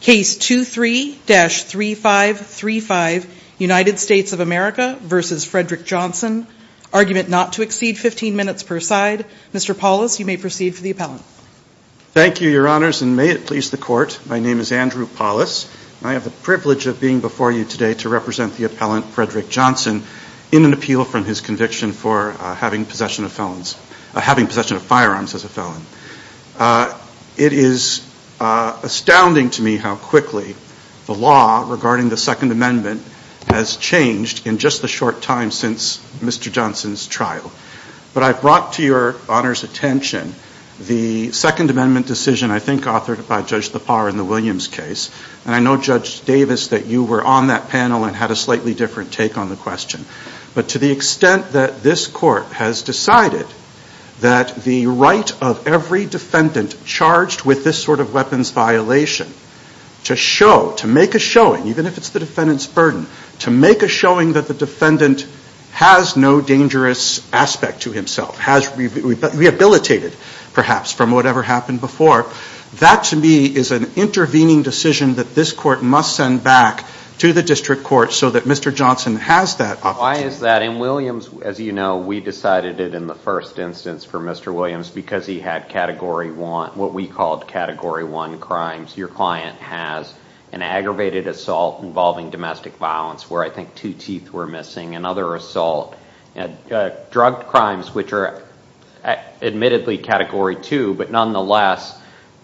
Case 23-3535, United States of America v. Fredrick Johnson. Argument not to exceed 15 minutes per side. Mr. Paulus, you may proceed for the appellant. Thank you, your honors, and may it please the court. My name is Andrew Paulus, and I have the privilege of being before you today to represent the appellant, Fredrick Johnson, in an appeal from his conviction for having possession of firearms as a felon. It is astounding to me how quickly the law regarding the Second Amendment has changed in just the short time since Mr. Johnson's trial, but I brought to your honors attention the Second Amendment decision, I think authored by Judge Lepar in the Williams case. And I know Judge Davis, that you were on that panel and had a slightly different take on the question. But to the extent that this court has decided that the right of every defendant charged with this sort of weapons violation to show, to make a showing, even if it's the defendant's burden, to make a showing that the defendant has no dangerous aspect to himself, has rehabilitated perhaps from whatever happened before, that to me is an intervening decision that this court must send back to the district court so that Mr. Johnson has that opportunity. Why is that? In Williams, as you know, we decided it in the first instance for Mr. Williams because he had category one, what we called category one crimes. Your client has an aggravated assault involving domestic violence where I think two teeth were missing, another assault, drug crimes which are admittedly category two, but nonetheless,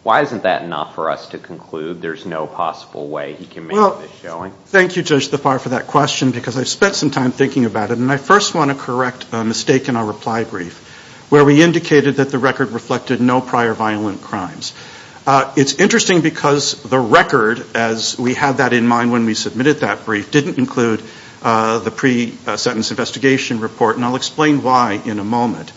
why isn't that enough for us to conclude there's no possible way he can make this showing? Well, thank you, Judge Thapar, for that question because I've spent some time thinking about it. And I first want to correct a mistake in our reply brief where we indicated that the record reflected no prior violent crimes. It's interesting because the record, as we had that in mind when we submitted that brief, didn't include the pre-sentence investigation report. And I'll explain why in a moment.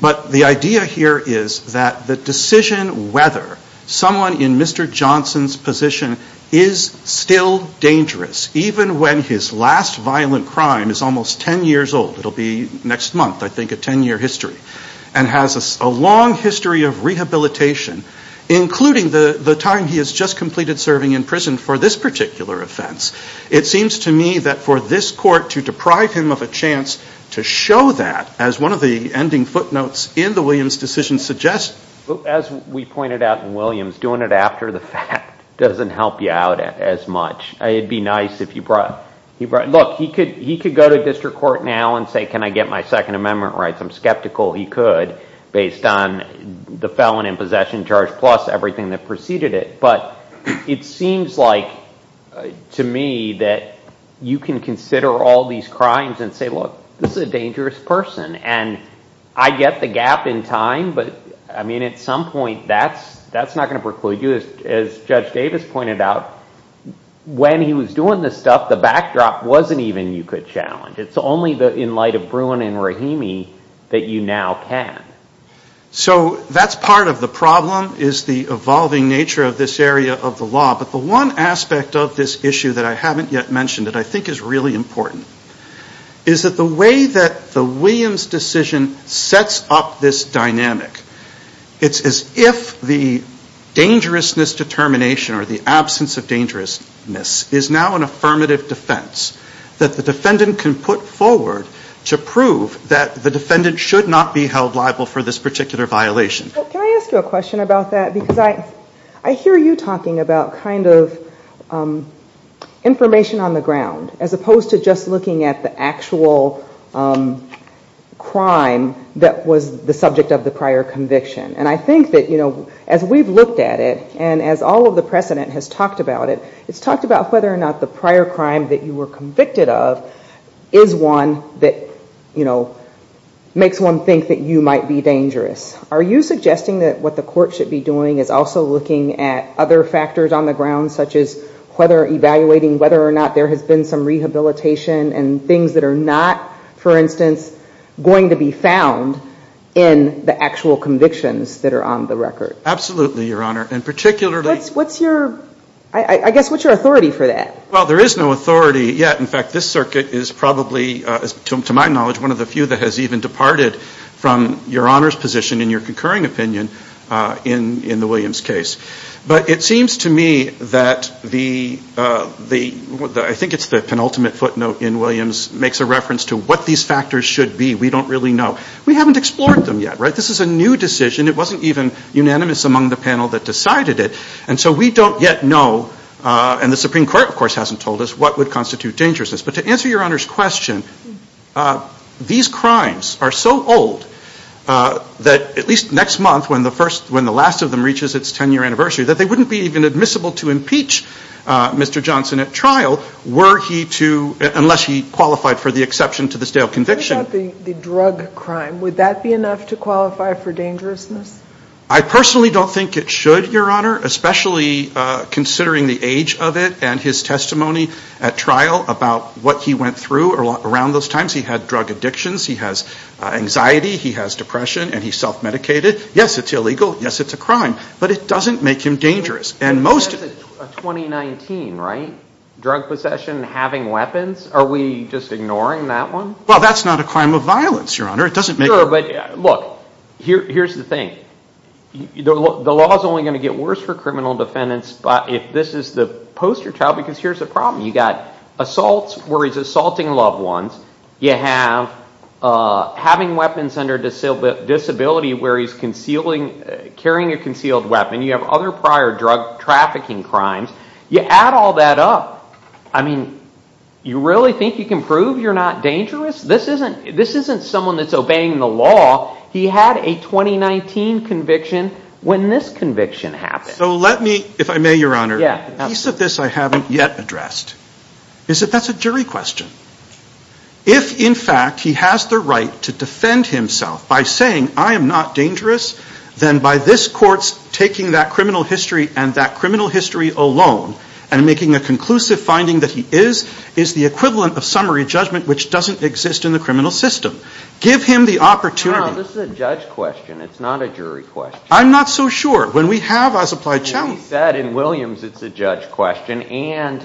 But the idea here is that the decision whether someone in Mr. Johnson's position is still dangerous, even when his last violent crime is almost ten years old, it'll be next month, I think, a ten year history, and has a long history of rehabilitation, including the time he has just completed serving in prison for this particular offense. It seems to me that for this court to deprive him of a chance to show that, as one of the ending footnotes in the Williams decision suggests. As we pointed out in Williams, doing it after the fact doesn't help you out as much. It'd be nice if you brought, look, he could go to district court now and say, can I get my Second Amendment rights? I'm skeptical he could based on the felon in possession charge plus everything that preceded it. But it seems like, to me, that you can consider all these crimes and say, look, this is a dangerous person. And I get the gap in time, but at some point, that's not going to preclude you. As Judge Davis pointed out, when he was doing this stuff, the backdrop wasn't even you could challenge. It's only in light of Bruin and Rahimi that you now can. So that's part of the problem, is the evolving nature of this area of the law. But the one aspect of this issue that I haven't yet mentioned that I think is really important is that the way that the Williams decision sets up this dynamic, it's as if the dangerousness determination or the absence of dangerousness is now an affirmative defense that the defendant can put forward to prove that the defendant should not be held liable for this particular violation. But can I ask you a question about that? Because I hear you talking about kind of information on the ground as opposed to just looking at the actual crime that was the subject of the prior conviction. And I think that as we've looked at it, and as all of the precedent has talked about it, it's talked about whether or not the prior crime that you were convicted of is one that makes one think that you might be dangerous. Are you suggesting that what the court should be doing is also looking at other factors on the ground, such as whether evaluating whether or not there has been some rehabilitation and things that are not, for instance, going to be found in the actual convictions that are on the record? Absolutely, Your Honor. And particularly... What's your, I guess, what's your authority for that? Well, there is no authority yet. In fact, this circuit is probably, to my knowledge, one of the few that has even departed from Your Honor's position in your concurring opinion in the Williams case. But it seems to me that the, I think it's the penultimate footnote in Williams, makes a reference to what these factors should be. We don't really know. We haven't explored them yet, right? This is a new decision. It wasn't even unanimous among the panel that decided it. And so we don't yet know, and the Supreme Court, of course, hasn't told us, what would constitute dangerousness. But to answer Your Honor's question, these crimes are so old that at least next month, when the first, when the last of them reaches its 10-year anniversary, that they wouldn't be even admissible to impeach Mr. Johnson at trial, were he to, unless he qualified for the exception to this day of conviction. What about the drug crime? Would that be enough to qualify for dangerousness? I personally don't think it should, Your Honor, especially considering the age of it and his testimony at trial about what he went through around those times. He had drug addictions. He has anxiety. He has depression. And he self-medicated. Yes, it's illegal. Yes, it's a crime. But it doesn't make him dangerous. And most of the- 2019, right? Drug possession, having weapons. Are we just ignoring that one? Well, that's not a crime of violence, Your Honor. It doesn't make it- Look, here's the thing. The law's only going to get worse for criminal defendants if this is the poster child, because here's the problem. You got assaults where he's assaulting loved ones. You have having weapons under disability where he's carrying a concealed weapon. You have other prior drug trafficking crimes. You add all that up, I mean, you really think you can prove you're not dangerous? This isn't someone that's obeying the law. He had a 2019 conviction when this conviction happened. So let me, if I may, Your Honor, a piece of this I haven't yet addressed. Is that that's a jury question. If, in fact, he has the right to defend himself by saying I am not dangerous, then by this court's taking that criminal history and that criminal history alone and making a conclusive finding that he is, is the equivalent of summary judgment which doesn't exist in the criminal system. Give him the opportunity- No, this is a judge question. It's not a jury question. I'm not so sure. When we have as applied challenge- He said in Williams it's a judge question. And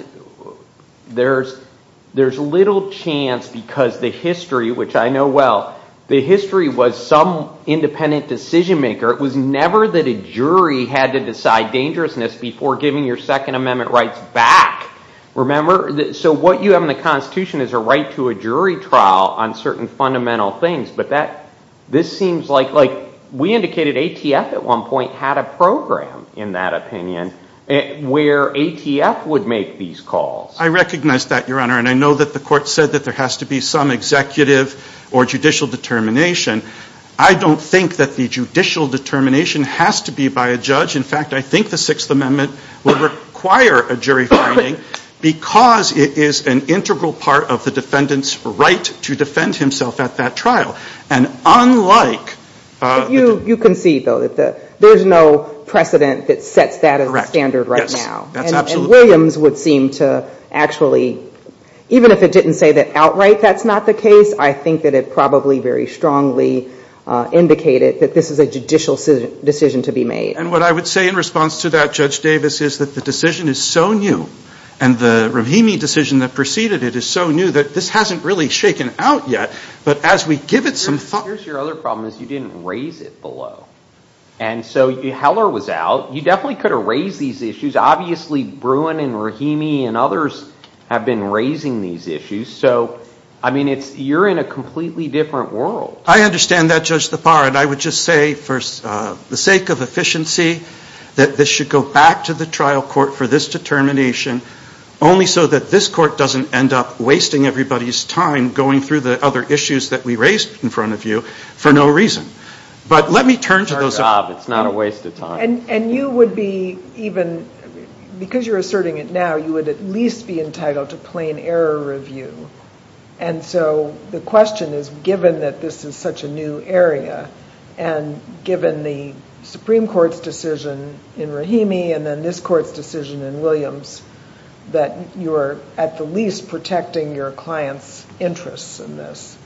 there's little chance because the history, which I know well, the history was some independent decision maker. It was never that a jury had to decide dangerousness before giving your Second Amendment rights back. Remember? So what you have in the Constitution is a right to a jury trial on certain fundamental things. But that, this seems like, like, we indicated ATF at one point had a program, in that opinion, where ATF would make these calls. I recognize that, Your Honor. And I know that the court said that there has to be some executive or judicial determination. I don't think that the judicial determination has to be by a judge. In fact, I think the Sixth Amendment would require a jury finding because it is an integral part of the defendant's right to defend himself at that trial. And unlike- You concede, though, that there's no precedent that sets that as a standard right now. And Williams would seem to actually, even if it didn't say that outright that's not the case, I think that it probably very strongly indicated that this is a judicial decision to be made. And what I would say in response to that, Judge Davis, is that the decision is so new and the Rahimi decision that preceded it is so new that this hasn't really shaken out yet. But as we give it some thought- Here's your other problem is you didn't raise it below. And so Heller was out. You definitely could have raised these issues. Obviously, Bruin and Rahimi and others have been raising these issues. So, I mean, you're in a completely different world. I understand that, Judge Tappara. And I would just say for the sake of efficiency that this should go back to the trial court for this determination only so that this court doesn't end up wasting everybody's time going through the other issues that we raised in front of you for no reason. But let me turn to those- It's our job. It's not a waste of time. And you would be even, because you're asserting it now, you would at least be entitled to plain error review. And so the question is, given that this is such a new area, and given the Supreme Court's decision in Rahimi and then this court's decision in Williams, that you're at the least protecting your client's interests in this.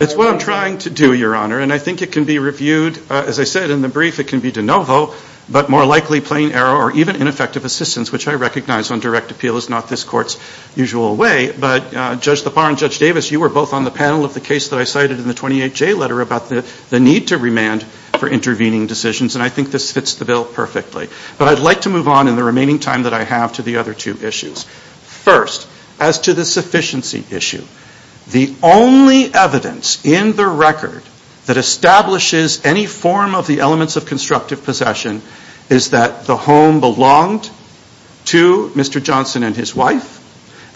It's what I'm trying to do, Your Honor. And I think it can be reviewed, as I said in the brief, it can be de novo, but more likely plain error or even ineffective assistance, which I recognize on direct appeal is not this court's usual way. But Judge Lepar and Judge Davis, you were both on the panel of the case that I cited in the 28J letter about the need to remand for intervening decisions, and I think this fits the bill perfectly. But I'd like to move on in the remaining time that I have to the other two issues. First, as to the sufficiency issue, the only evidence in the record that establishes any form of the elements of constructive possession is that the home belonged to Mr. Johnson and his wife,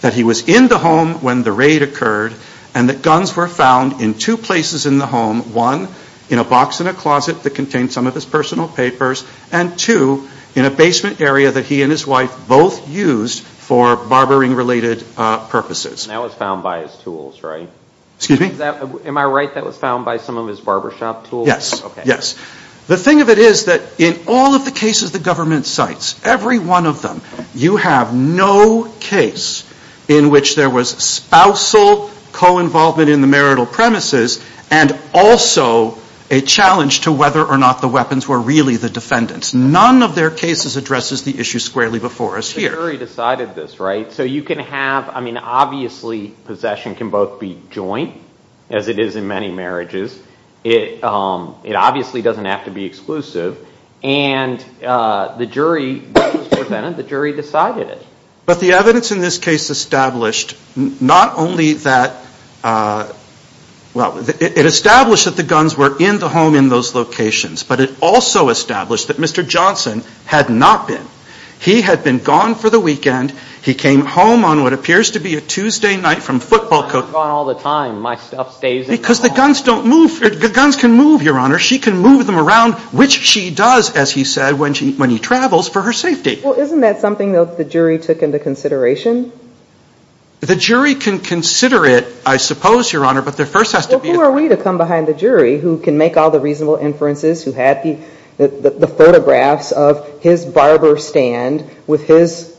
that he was in the home when the raid occurred, and that guns were found in two places in the home, one, in a box in a closet that contained some of his personal papers, and two, in a basement area that he and his wife both used for barbering-related purposes. And that was found by his tools, right? Excuse me? Am I right that was found by some of his barbershop tools? Yes. Yes. The thing of it is that in all of the cases the government cites, every one of them, you have no case in which there was spousal co-involvement in the marital premises and also a challenge to whether or not the weapons were really the defendant's. None of their cases addresses the issue squarely before us here. The jury decided this, right? So you can have, I mean, obviously possession can both be joint, as it is in many marriages. It obviously doesn't have to be exclusive. And the jury, the jury decided it. But the evidence in this case established not only that, well, it established that the guns were in the home in those locations, but it also established that Mr. Johnson had not been. He had been gone for the weekend. He came home on what appears to be a Tuesday night from football coach. I'm gone all the time. My stuff stays at home. Because the guns don't move, the guns can move, Your Honor. She can move them around, which she does, as he said, when he travels for her safety. Well, isn't that something that the jury took into consideration? The jury can consider it, I suppose, Your Honor, but there first has to be a Well, who are we to come behind the jury who can make all the reasonable inferences, who had the photographs of his barber stand with his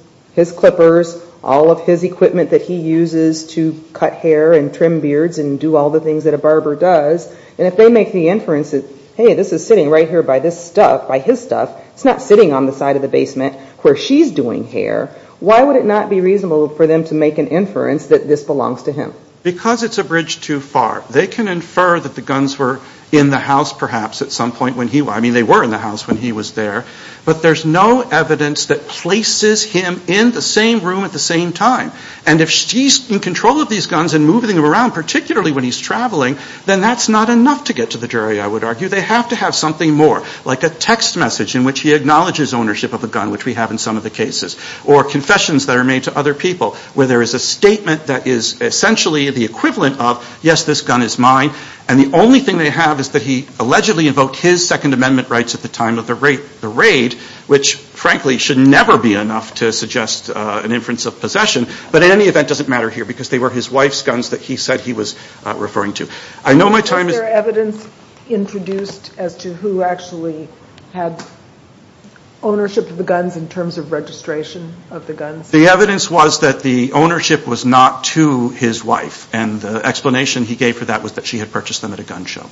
clippers, all of his equipment that he uses to cut hair and trim beards and do all the things that a barber does? And if they make the inference that, hey, this is sitting right here by this stuff, by his stuff, it's not sitting on the side of the basement where she's doing hair, why would it not be reasonable for them to make an inference that this belongs to him? Because it's a bridge too far. They can infer that the guns were in the house, perhaps, at some point when he, I mean, they were in the house when he was there, but there's no evidence that places him in the same room at the same time. And if she's in control of these guns and moving them around, particularly when he's traveling, then that's not enough to get to the jury, I would argue. They have to have something more, like a text message in which he acknowledges ownership of the gun, which we have in some of the cases, or confessions that are made to other people where there is a statement that is essentially the equivalent of, yes, this gun is mine, and the only thing they have is that he allegedly invoked his Second Amendment rights at the time of the raid, which, frankly, should never be enough to suggest an inference of possession. But in any event, it doesn't matter here because they were his wife's guns that he said he was referring to. I know my time is... Was there evidence introduced as to who actually had ownership of the guns in terms of registration of the guns? The evidence was that the ownership was not to his wife, and the explanation he gave for that was that she had purchased them at a gun show.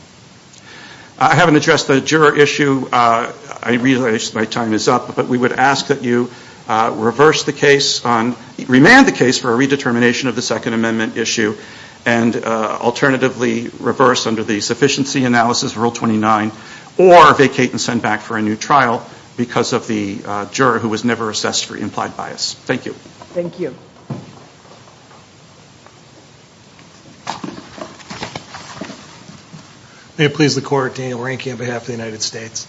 I haven't addressed the juror issue. I realize my time is up, but we would ask that you reverse the case on, remand the case for a redetermination of the Second Amendment issue, and alternatively reverse under the sufficiency analysis, Rule 29, or vacate and send back for a new trial because of the juror who was never assessed for implied bias. Thank you. Thank you. May it please the Court, Daniel Reinke on behalf of the United States.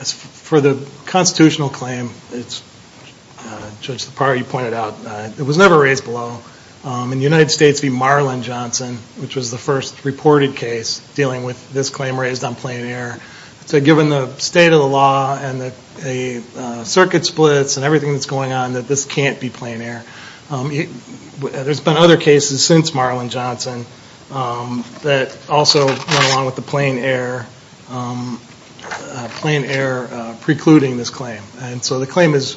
As for the constitutional claim, Judge Lepar, you pointed out, it was never raised below. In the United States v. Marlon Johnson, which was the first reported case dealing with this claim raised on plain air, given the state of the law and the circuit splits and everything that's going on, that this can't be plain air. There's been other cases since Marlon Johnson that also went along with the plain air precluding this claim. And so the claim is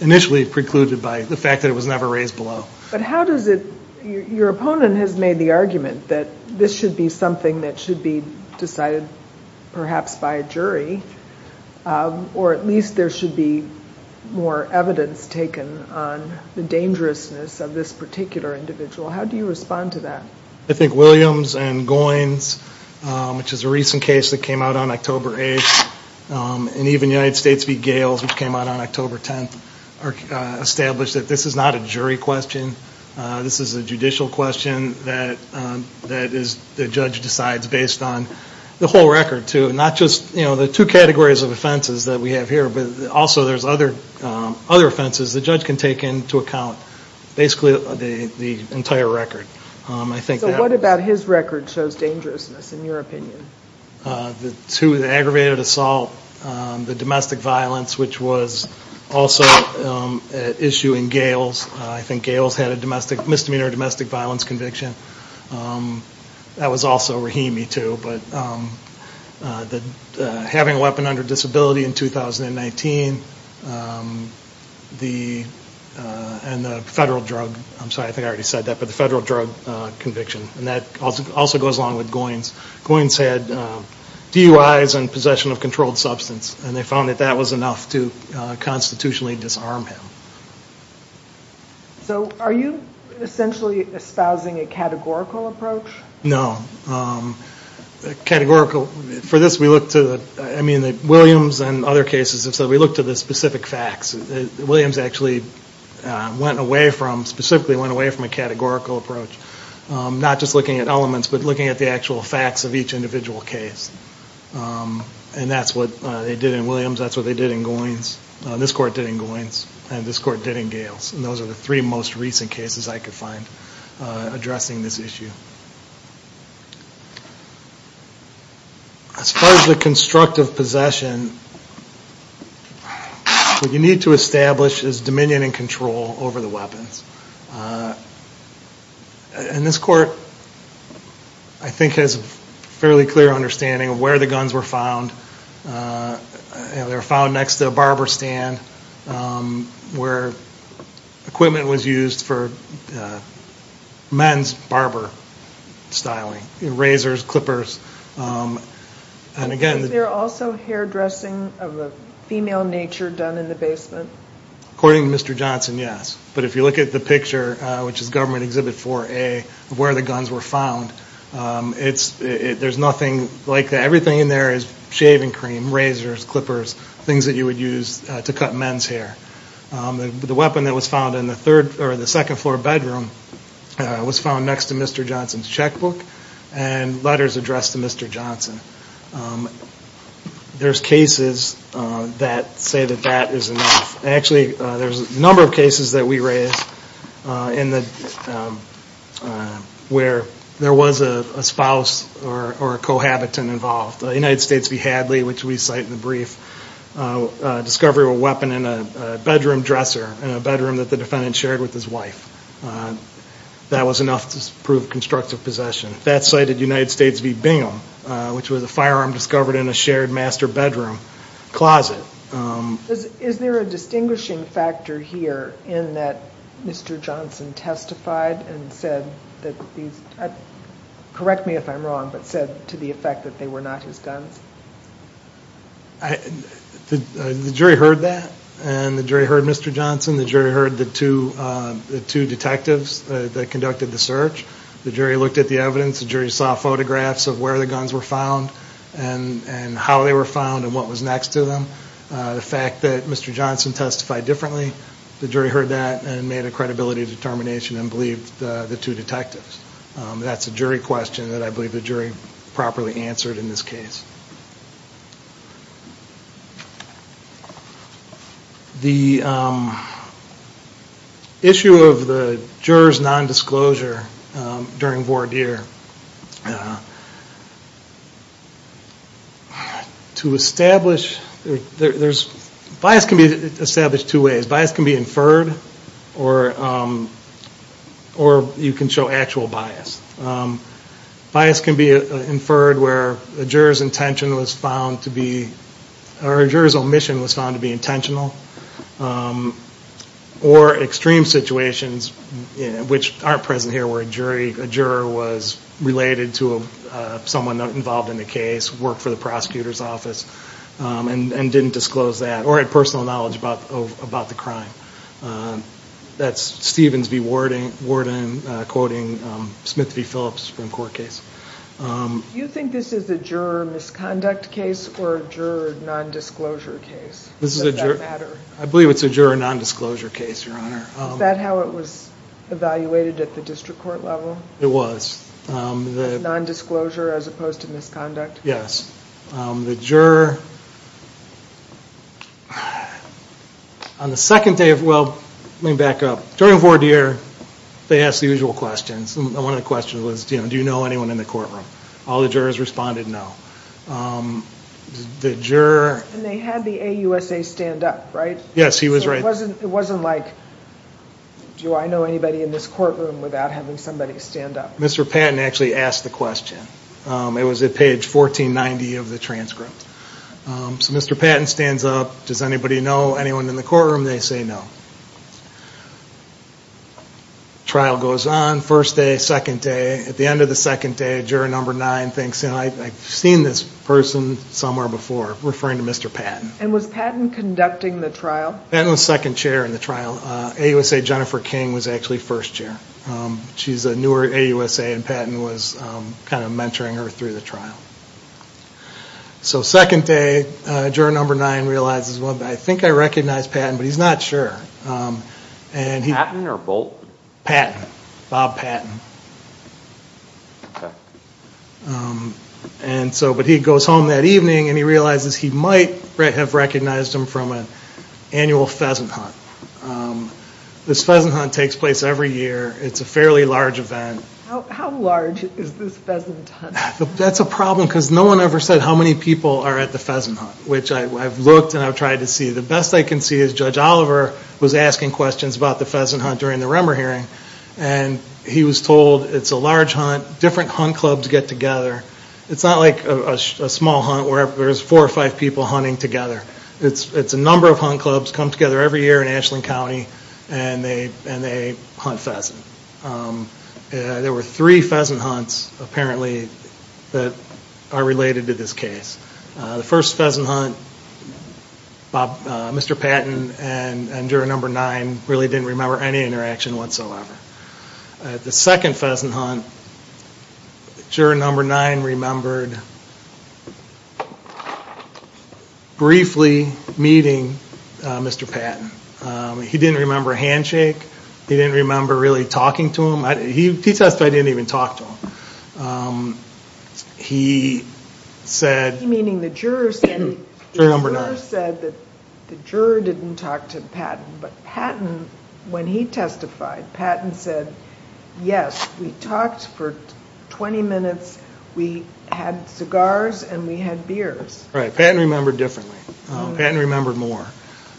initially precluded by the fact that it was never raised below. But how does it, your opponent has made the argument that this should be something that should be decided perhaps by a jury, or at least there should be more evidence taken on the dangerousness of this particular individual. How do you respond to that? I think Williams and Goins, which is a recent case that came out on October 8th, and even United States v. Gales, which came out on October 10th, established that this is not a jury question. This is a judicial question that the judge decides based on the whole record, too. Not just the two categories of offenses that we have here, but also there's other offenses the judge can take into account, basically the entire record. What about his record shows dangerousness, in your opinion? The aggravated assault, the domestic violence, which was also at issue in Gales. I think Gales had a misdemeanor domestic violence conviction. That was also Rahimi, too, but having a weapon under disability in 2019, and the federal drug, I'm sorry, I think I already said that, but the federal drug conviction, and that also goes along with Goins. Goins had DUIs and possession of controlled substance, and they found that that was enough to constitutionally disarm him. Are you essentially espousing a categorical approach? For this, Williams and other cases, we look to the specific facts. Williams actually went away from, specifically went away from a categorical approach, not just looking at elements, but looking at the actual facts of each individual case. And that's what they did in Williams, that's what they did in Goins. This court did in Goins, and this court did in Gales, and those are the three most recent cases I could find addressing this issue. As far as the constructive possession, what you need to establish is dominion and control over the weapons. And this court, I think, has a fairly clear understanding of where the guns were found. They were found next to a barber stand, where equipment was used for men's barber styling, razors, clippers, and again- Was there also hairdressing of a female nature done in the basement? According to Mr. Johnson, yes. But if you look at the picture, which is government exhibit 4A, of where the guns were found, there's nothing, like everything in there is shaving cream, razors, clippers, things that you would use to cut men's hair. The weapon that was found in the second floor bedroom was found next to Mr. Johnson's checkbook and letters addressed to Mr. Johnson. There's cases that say that that is enough. Actually, there's a number of cases that we raised where there was a spouse or a cohabitant involved. United States v. Hadley, which we cite in the brief, discovery of a weapon in a bedroom dresser in a bedroom that the defendant shared with his wife. That was enough to prove constructive possession. That's cited United States v. Bingham, which was a firearm discovered in a shared master bedroom closet. Is there a distinguishing factor here in that Mr. Johnson testified and said, correct me if I'm wrong, but said to the effect that they were not his guns? The jury heard that, and the jury heard Mr. Johnson. The jury heard the two detectives that conducted the search. The jury looked at the evidence. The jury saw photographs of where the guns were found and how they were found and what was next to them. The fact that Mr. Johnson testified differently, the jury heard that and made a credibility determination and believed the two detectives. That's a jury question that I believe the jury properly answered in this case. The issue of the juror's nondisclosure during voir dire, to establish, bias can be established two ways. Bias can be inferred or you can show actual bias. Bias can be inferred where a juror's omission was found to be intentional or extreme situations, which aren't present here, where a juror was related to someone involved in the case, worked for the prosecutor's office and didn't disclose that or had personal knowledge about the crime. That's Stevens v. Worden quoting Smith v. Phillips Supreme Court case. Do you think this is a juror misconduct case or a juror nondisclosure case? I believe it's a juror nondisclosure case, Your Honor. Is that how it was evaluated at the district court level? It was. Nondisclosure as opposed to misconduct? Yes. The juror, on the second day of, well, let me back up. During voir dire, they asked the usual questions. One of the questions was, do you know anyone in the courtroom? All the jurors responded no. The juror... And they had the AUSA stand up, right? Yes, he was right. So it wasn't like, do I know anybody in this courtroom without having somebody stand up? Mr. Patton actually asked the question. It was at page 1490 of the transcript. So Mr. Patton stands up. Does anybody know anyone in the courtroom? They say no. Trial goes on, first day, second day. At the end of the second day, juror number nine thinks, I've seen this person somewhere before, referring to Mr. Patton. And was Patton conducting the trial? Patton was second chair in the trial. AUSA Jennifer King was actually first chair. She's a newer AUSA, and Patton was kind of mentoring her through the trial. So second day, juror number nine realizes, well, I think I recognize Patton, but he's not sure. Patton or Bolt? Patton. Bob Patton. But he goes home that evening, and he realizes he might have recognized him from an annual pheasant hunt. This pheasant hunt takes place every year. It's a fairly large event. How large is this pheasant hunt? That's a problem, because no one ever said how many people are at the pheasant hunt, which I've looked and I've tried to see. The best I can see is Judge Oliver was asking questions about the pheasant hunt during the Remmer hearing, and he was told it's a large hunt, different hunt clubs get together. It's not like a small hunt where there's four or five people hunting together. It's a number of hunt clubs come together every year in Ashland County, and they hunt pheasant. There were three pheasant hunts, apparently, that are related to this case. The first pheasant hunt, Mr. Patton and juror number nine really didn't remember any interaction whatsoever. The second pheasant hunt, juror number nine remembered briefly meeting Mr. Patton. He didn't remember a handshake. He didn't remember really talking to him. He testified he didn't even talk to him. He said... Meaning the juror said that the juror didn't talk to Patton, but Patton, when he testified, Patton said, yes, we talked for 20 minutes, we had cigars, and we had beers. Right, Patton remembered differently. Patton remembered more.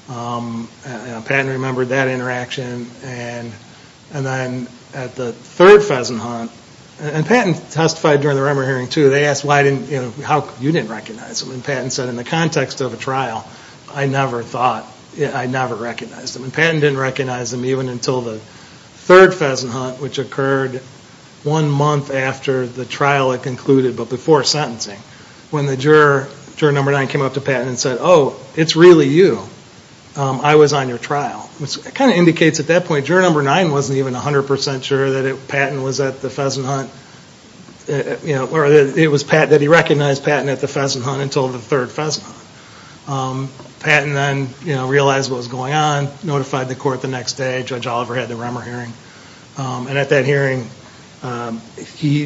Patton remembered that interaction. Then at the third pheasant hunt, and Patton testified during the Remmer hearing too, they asked how you didn't recognize him, and Patton said, in the context of a trial, I never thought, I never recognized him. And Patton didn't recognize him even until the third pheasant hunt, which occurred one month after the trial had concluded, but before sentencing, when the juror, juror number nine, came up to Patton and said, oh, it's really you. I was on your trial, which kind of indicates at that point, juror number nine wasn't even 100% sure that Patton was at the pheasant hunt, or that he recognized Patton at the pheasant hunt until the third pheasant hunt. Patton then realized what was going on, notified the court the next day. Judge Oliver had the Remmer hearing. And at that hearing, he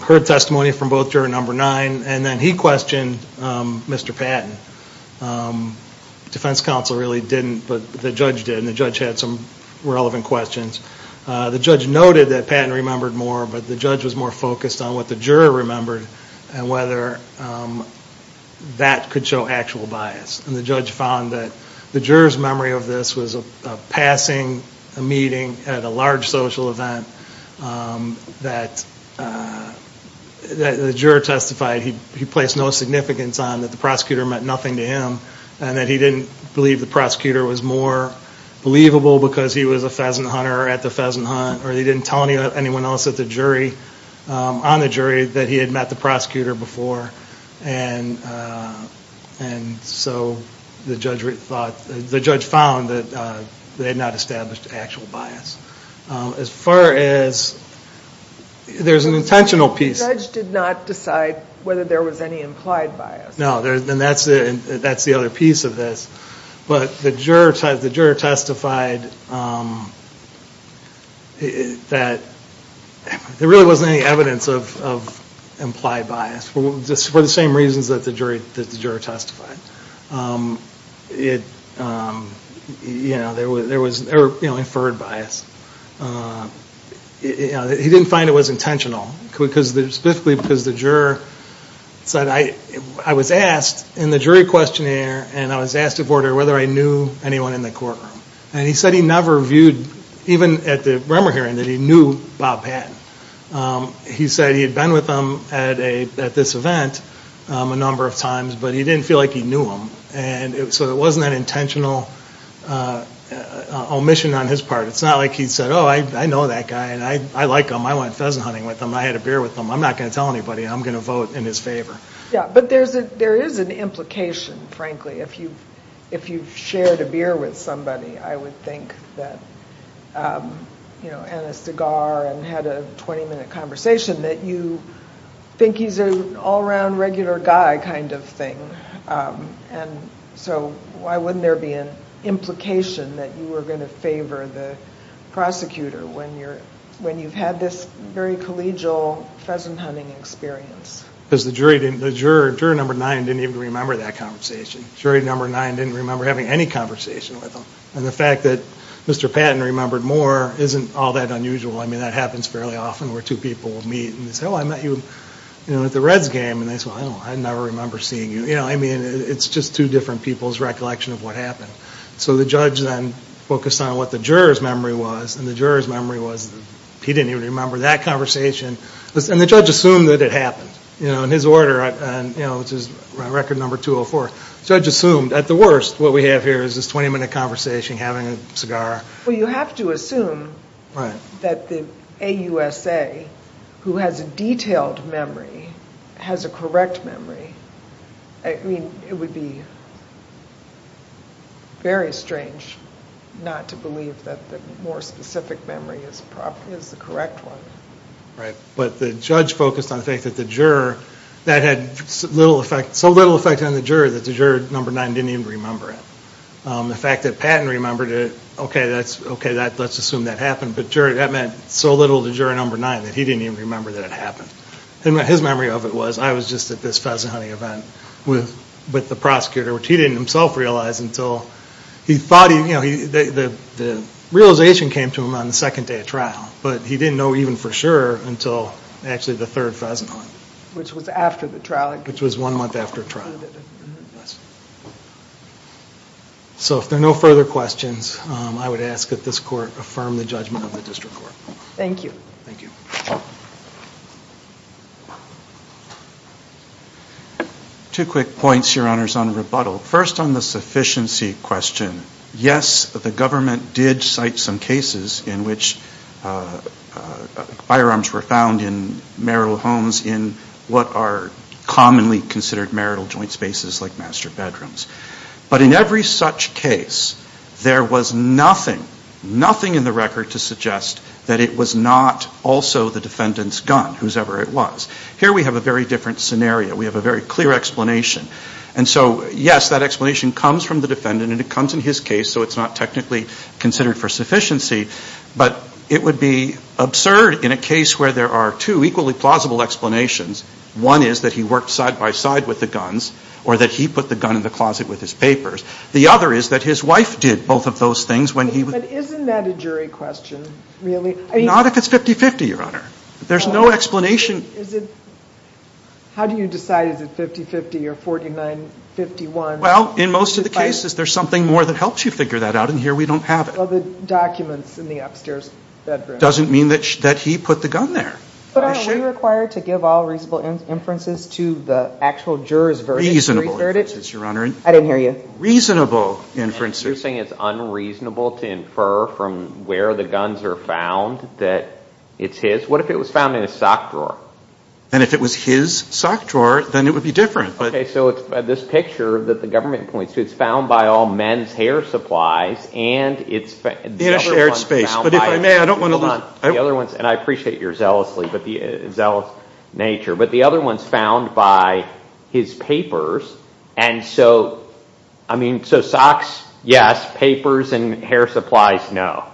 heard testimony from both juror number nine, and then he questioned Mr. Patton. Defense counsel really didn't, but the judge did, and the judge had some relevant questions. The judge noted that Patton remembered more, but the judge was more focused on what the juror remembered and whether that could show actual bias. And the judge found that the juror's memory of this was of passing a meeting at a large social event that the juror testified he placed no significance on, that the prosecutor meant nothing to him, and that he didn't believe the prosecutor was more believable because he was a pheasant hunter at the pheasant hunt, or he didn't tell anyone else on the jury that he had met the prosecutor before. And so the judge found that they had not established actual bias. As far as there's an intentional piece. The judge did not decide whether there was any implied bias. No, and that's the other piece of this. But the juror testified that there really wasn't any evidence of implied bias for the same reasons that the juror testified. There was inferred bias. He didn't find it was intentional specifically because the juror said, I was asked in the jury questionnaire, and I was asked if I knew anyone in the courtroom. And he said he never viewed, even at the Bremer hearing, that he knew Bob Patton. He said he had been with him at this event a number of times, but he didn't feel like he knew him. So it wasn't an intentional omission on his part. It's not like he said, oh, I know that guy, and I like him. I went pheasant hunting with him, and I had a beer with him. I'm not going to tell anybody, and I'm going to vote in his favor. Yeah, but there is an implication, frankly. If you've shared a beer with somebody, I would think that, you know, and a cigar and had a 20-minute conversation, that you think he's an all-around regular guy kind of thing. And so why wouldn't there be an implication that you were going to favor the prosecutor when you've had this very collegial pheasant hunting experience? Because the juror number nine didn't even remember that conversation. Jury number nine didn't remember having any conversation with him. And the fact that Mr. Patton remembered more isn't all that unusual. I mean, that happens fairly often where two people meet and say, oh, I met you at the Reds game. And they say, oh, I never remember seeing you. You know, I mean, it's just two different people's recollection of what happened. So the judge then focused on what the juror's memory was, and the juror's memory was that he didn't even remember that conversation. And the judge assumed that it happened. You know, in his order, which is record number 204, the judge assumed, at the worst, what we have here is this 20-minute conversation, having a cigar. Well, you have to assume that the AUSA, who has a detailed memory, has a correct memory. I mean, it would be very strange not to believe that the more specific memory is the correct one. Right. But the judge focused on the fact that the juror, that had so little effect on the juror, that the juror number nine didn't even remember it. The fact that Patton remembered it, okay, let's assume that happened. But that meant so little to juror number nine that he didn't even remember that it happened. His memory of it was, I was just at this pheasant hunting event with the prosecutor, which he didn't himself realize until he thought he, you know, the realization came to him on the second day of trial. But he didn't know even for sure until actually the third pheasant hunt. Which was after the trial. Which was one month after trial. So if there are no further questions, I would ask that this court affirm the judgment of the district court. Thank you. Thank you. Two quick points, your honors, on rebuttal. First on the sufficiency question. Yes, the government did cite some cases in which firearms were found in marital homes in what are commonly considered marital joint spaces like master bedrooms. But in every such case, there was nothing, nothing in the record to suggest that it was not also the defendant's gun. Whosever it was. Here we have a very different scenario. We have a very clear explanation. And so, yes, that explanation comes from the defendant. And it comes in his case. So it's not technically considered for sufficiency. But it would be absurd in a case where there are two equally plausible explanations. One is that he worked side by side with the guns. Or that he put the gun in the closet with his papers. The other is that his wife did both of those things. But isn't that a jury question, really? Not if it's 50-50, your honor. There's no explanation. How do you decide is it 50-50 or 49-51? Well, in most of the cases, there's something more that helps you figure that out. And here we don't have it. Well, the documents in the upstairs bedroom. Doesn't mean that he put the gun there. But aren't we required to give all reasonable inferences to the actual jurors' verdict? Reasonable inferences, your honor. I didn't hear you. Reasonable inferences. You're saying it's unreasonable to infer from where the guns are found that it's his? What if it was found in his sock drawer? And if it was his sock drawer, then it would be different. Okay, so it's this picture that the government points to. It's found by all men's hair supplies. In a shared space. But if I may, I don't want to lose. And I appreciate your zealously, but the zealous nature. But the other one's found by his papers. And so, I mean, so socks, yes. Papers and hair supplies, no.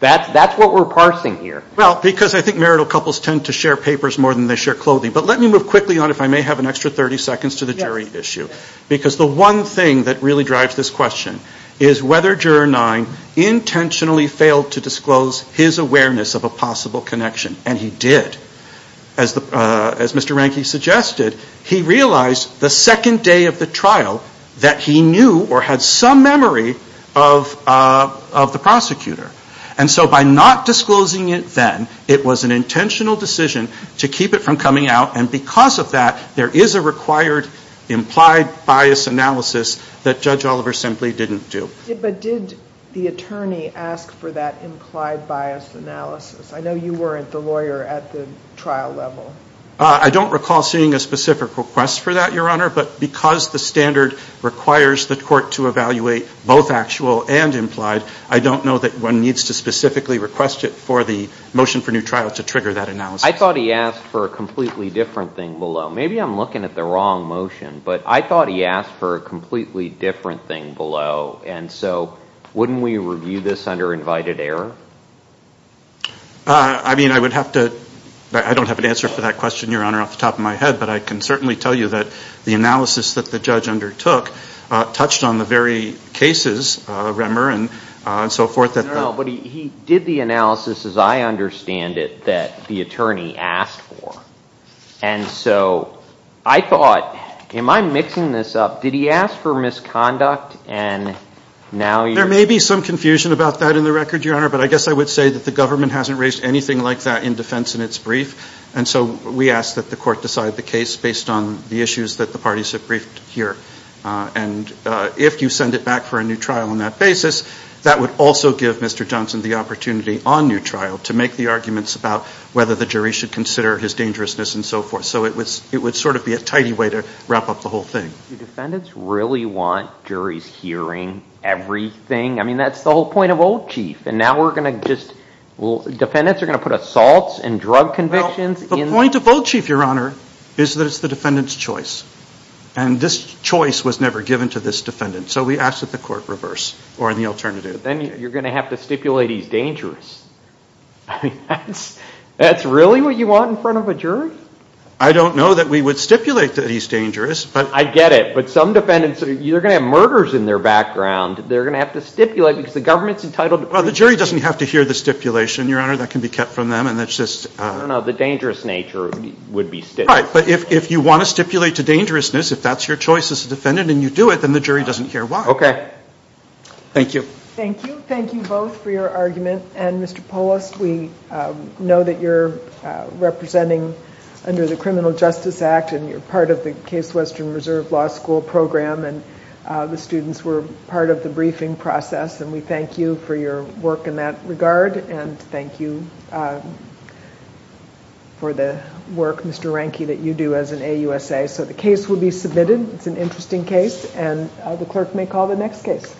That's what we're parsing here. Well, because I think marital couples tend to share papers more than they share clothing. But let me move quickly on, if I may have an extra 30 seconds, to the jury issue. Because the one thing that really drives this question is whether Juror 9 intentionally failed to disclose his awareness of a possible connection. And he did. As Mr. Ranke suggested, he realized the second day of the trial that he knew or had some memory of the prosecutor. And so by not disclosing it then, it was an intentional decision to keep it from coming out. And because of that, there is a required implied bias analysis that Judge Oliver simply didn't do. But did the attorney ask for that implied bias analysis? I know you weren't the lawyer at the trial level. I don't recall seeing a specific request for that, Your Honor. But because the standard requires the court to evaluate both actual and implied, I don't know that one needs to specifically request it for the motion for new trial to trigger that analysis. I thought he asked for a completely different thing below. Maybe I'm looking at the wrong motion. But I thought he asked for a completely different thing below. And so wouldn't we review this under invited error? I mean, I would have to – I don't have an answer for that question, Your Honor, off the top of my head. But I can certainly tell you that the analysis that the judge undertook touched on the very cases, Remmer and so forth. But he did the analysis, as I understand it, that the attorney asked for. And so I thought, am I mixing this up? Did he ask for misconduct? There may be some confusion about that in the record, Your Honor. But I guess I would say that the government hasn't raised anything like that in defense in its brief. And so we ask that the court decide the case based on the issues that the parties have briefed here. And if you send it back for a new trial on that basis, that would also give Mr. Johnson the opportunity on new trial to make the arguments about whether the jury should consider his dangerousness and so forth. So it would sort of be a tidy way to wrap up the whole thing. Do defendants really want juries hearing everything? I mean, that's the whole point of old chief. Defendants are going to put assaults and drug convictions? The point of old chief, Your Honor, is that it's the defendant's choice. And this choice was never given to this defendant. So we ask that the court reverse or the alternative. Then you're going to have to stipulate he's dangerous. That's really what you want in front of a jury? I don't know that we would stipulate that he's dangerous. I get it. But some defendants, you're going to have murders in their background. They're going to have to stipulate because the government's entitled to pre-judge. Well, the jury doesn't have to hear the stipulation, Your Honor. That can be kept from them. I don't know. The dangerous nature would be stipulated. Right. But if you want to stipulate to dangerousness, if that's your choice as a defendant and you do it, then the jury doesn't hear why. Okay. Thank you. Thank you. Thank you both for your argument. And, Mr. Polis, we know that you're representing under the Criminal Justice Act, and you're part of the Case Western Reserve Law School program, and the students were part of the briefing process, and we thank you for your work in that regard, and thank you for the work, Mr. Ranke, that you do as an AUSA. So the case will be submitted. It's an interesting case, and the clerk may call the next case.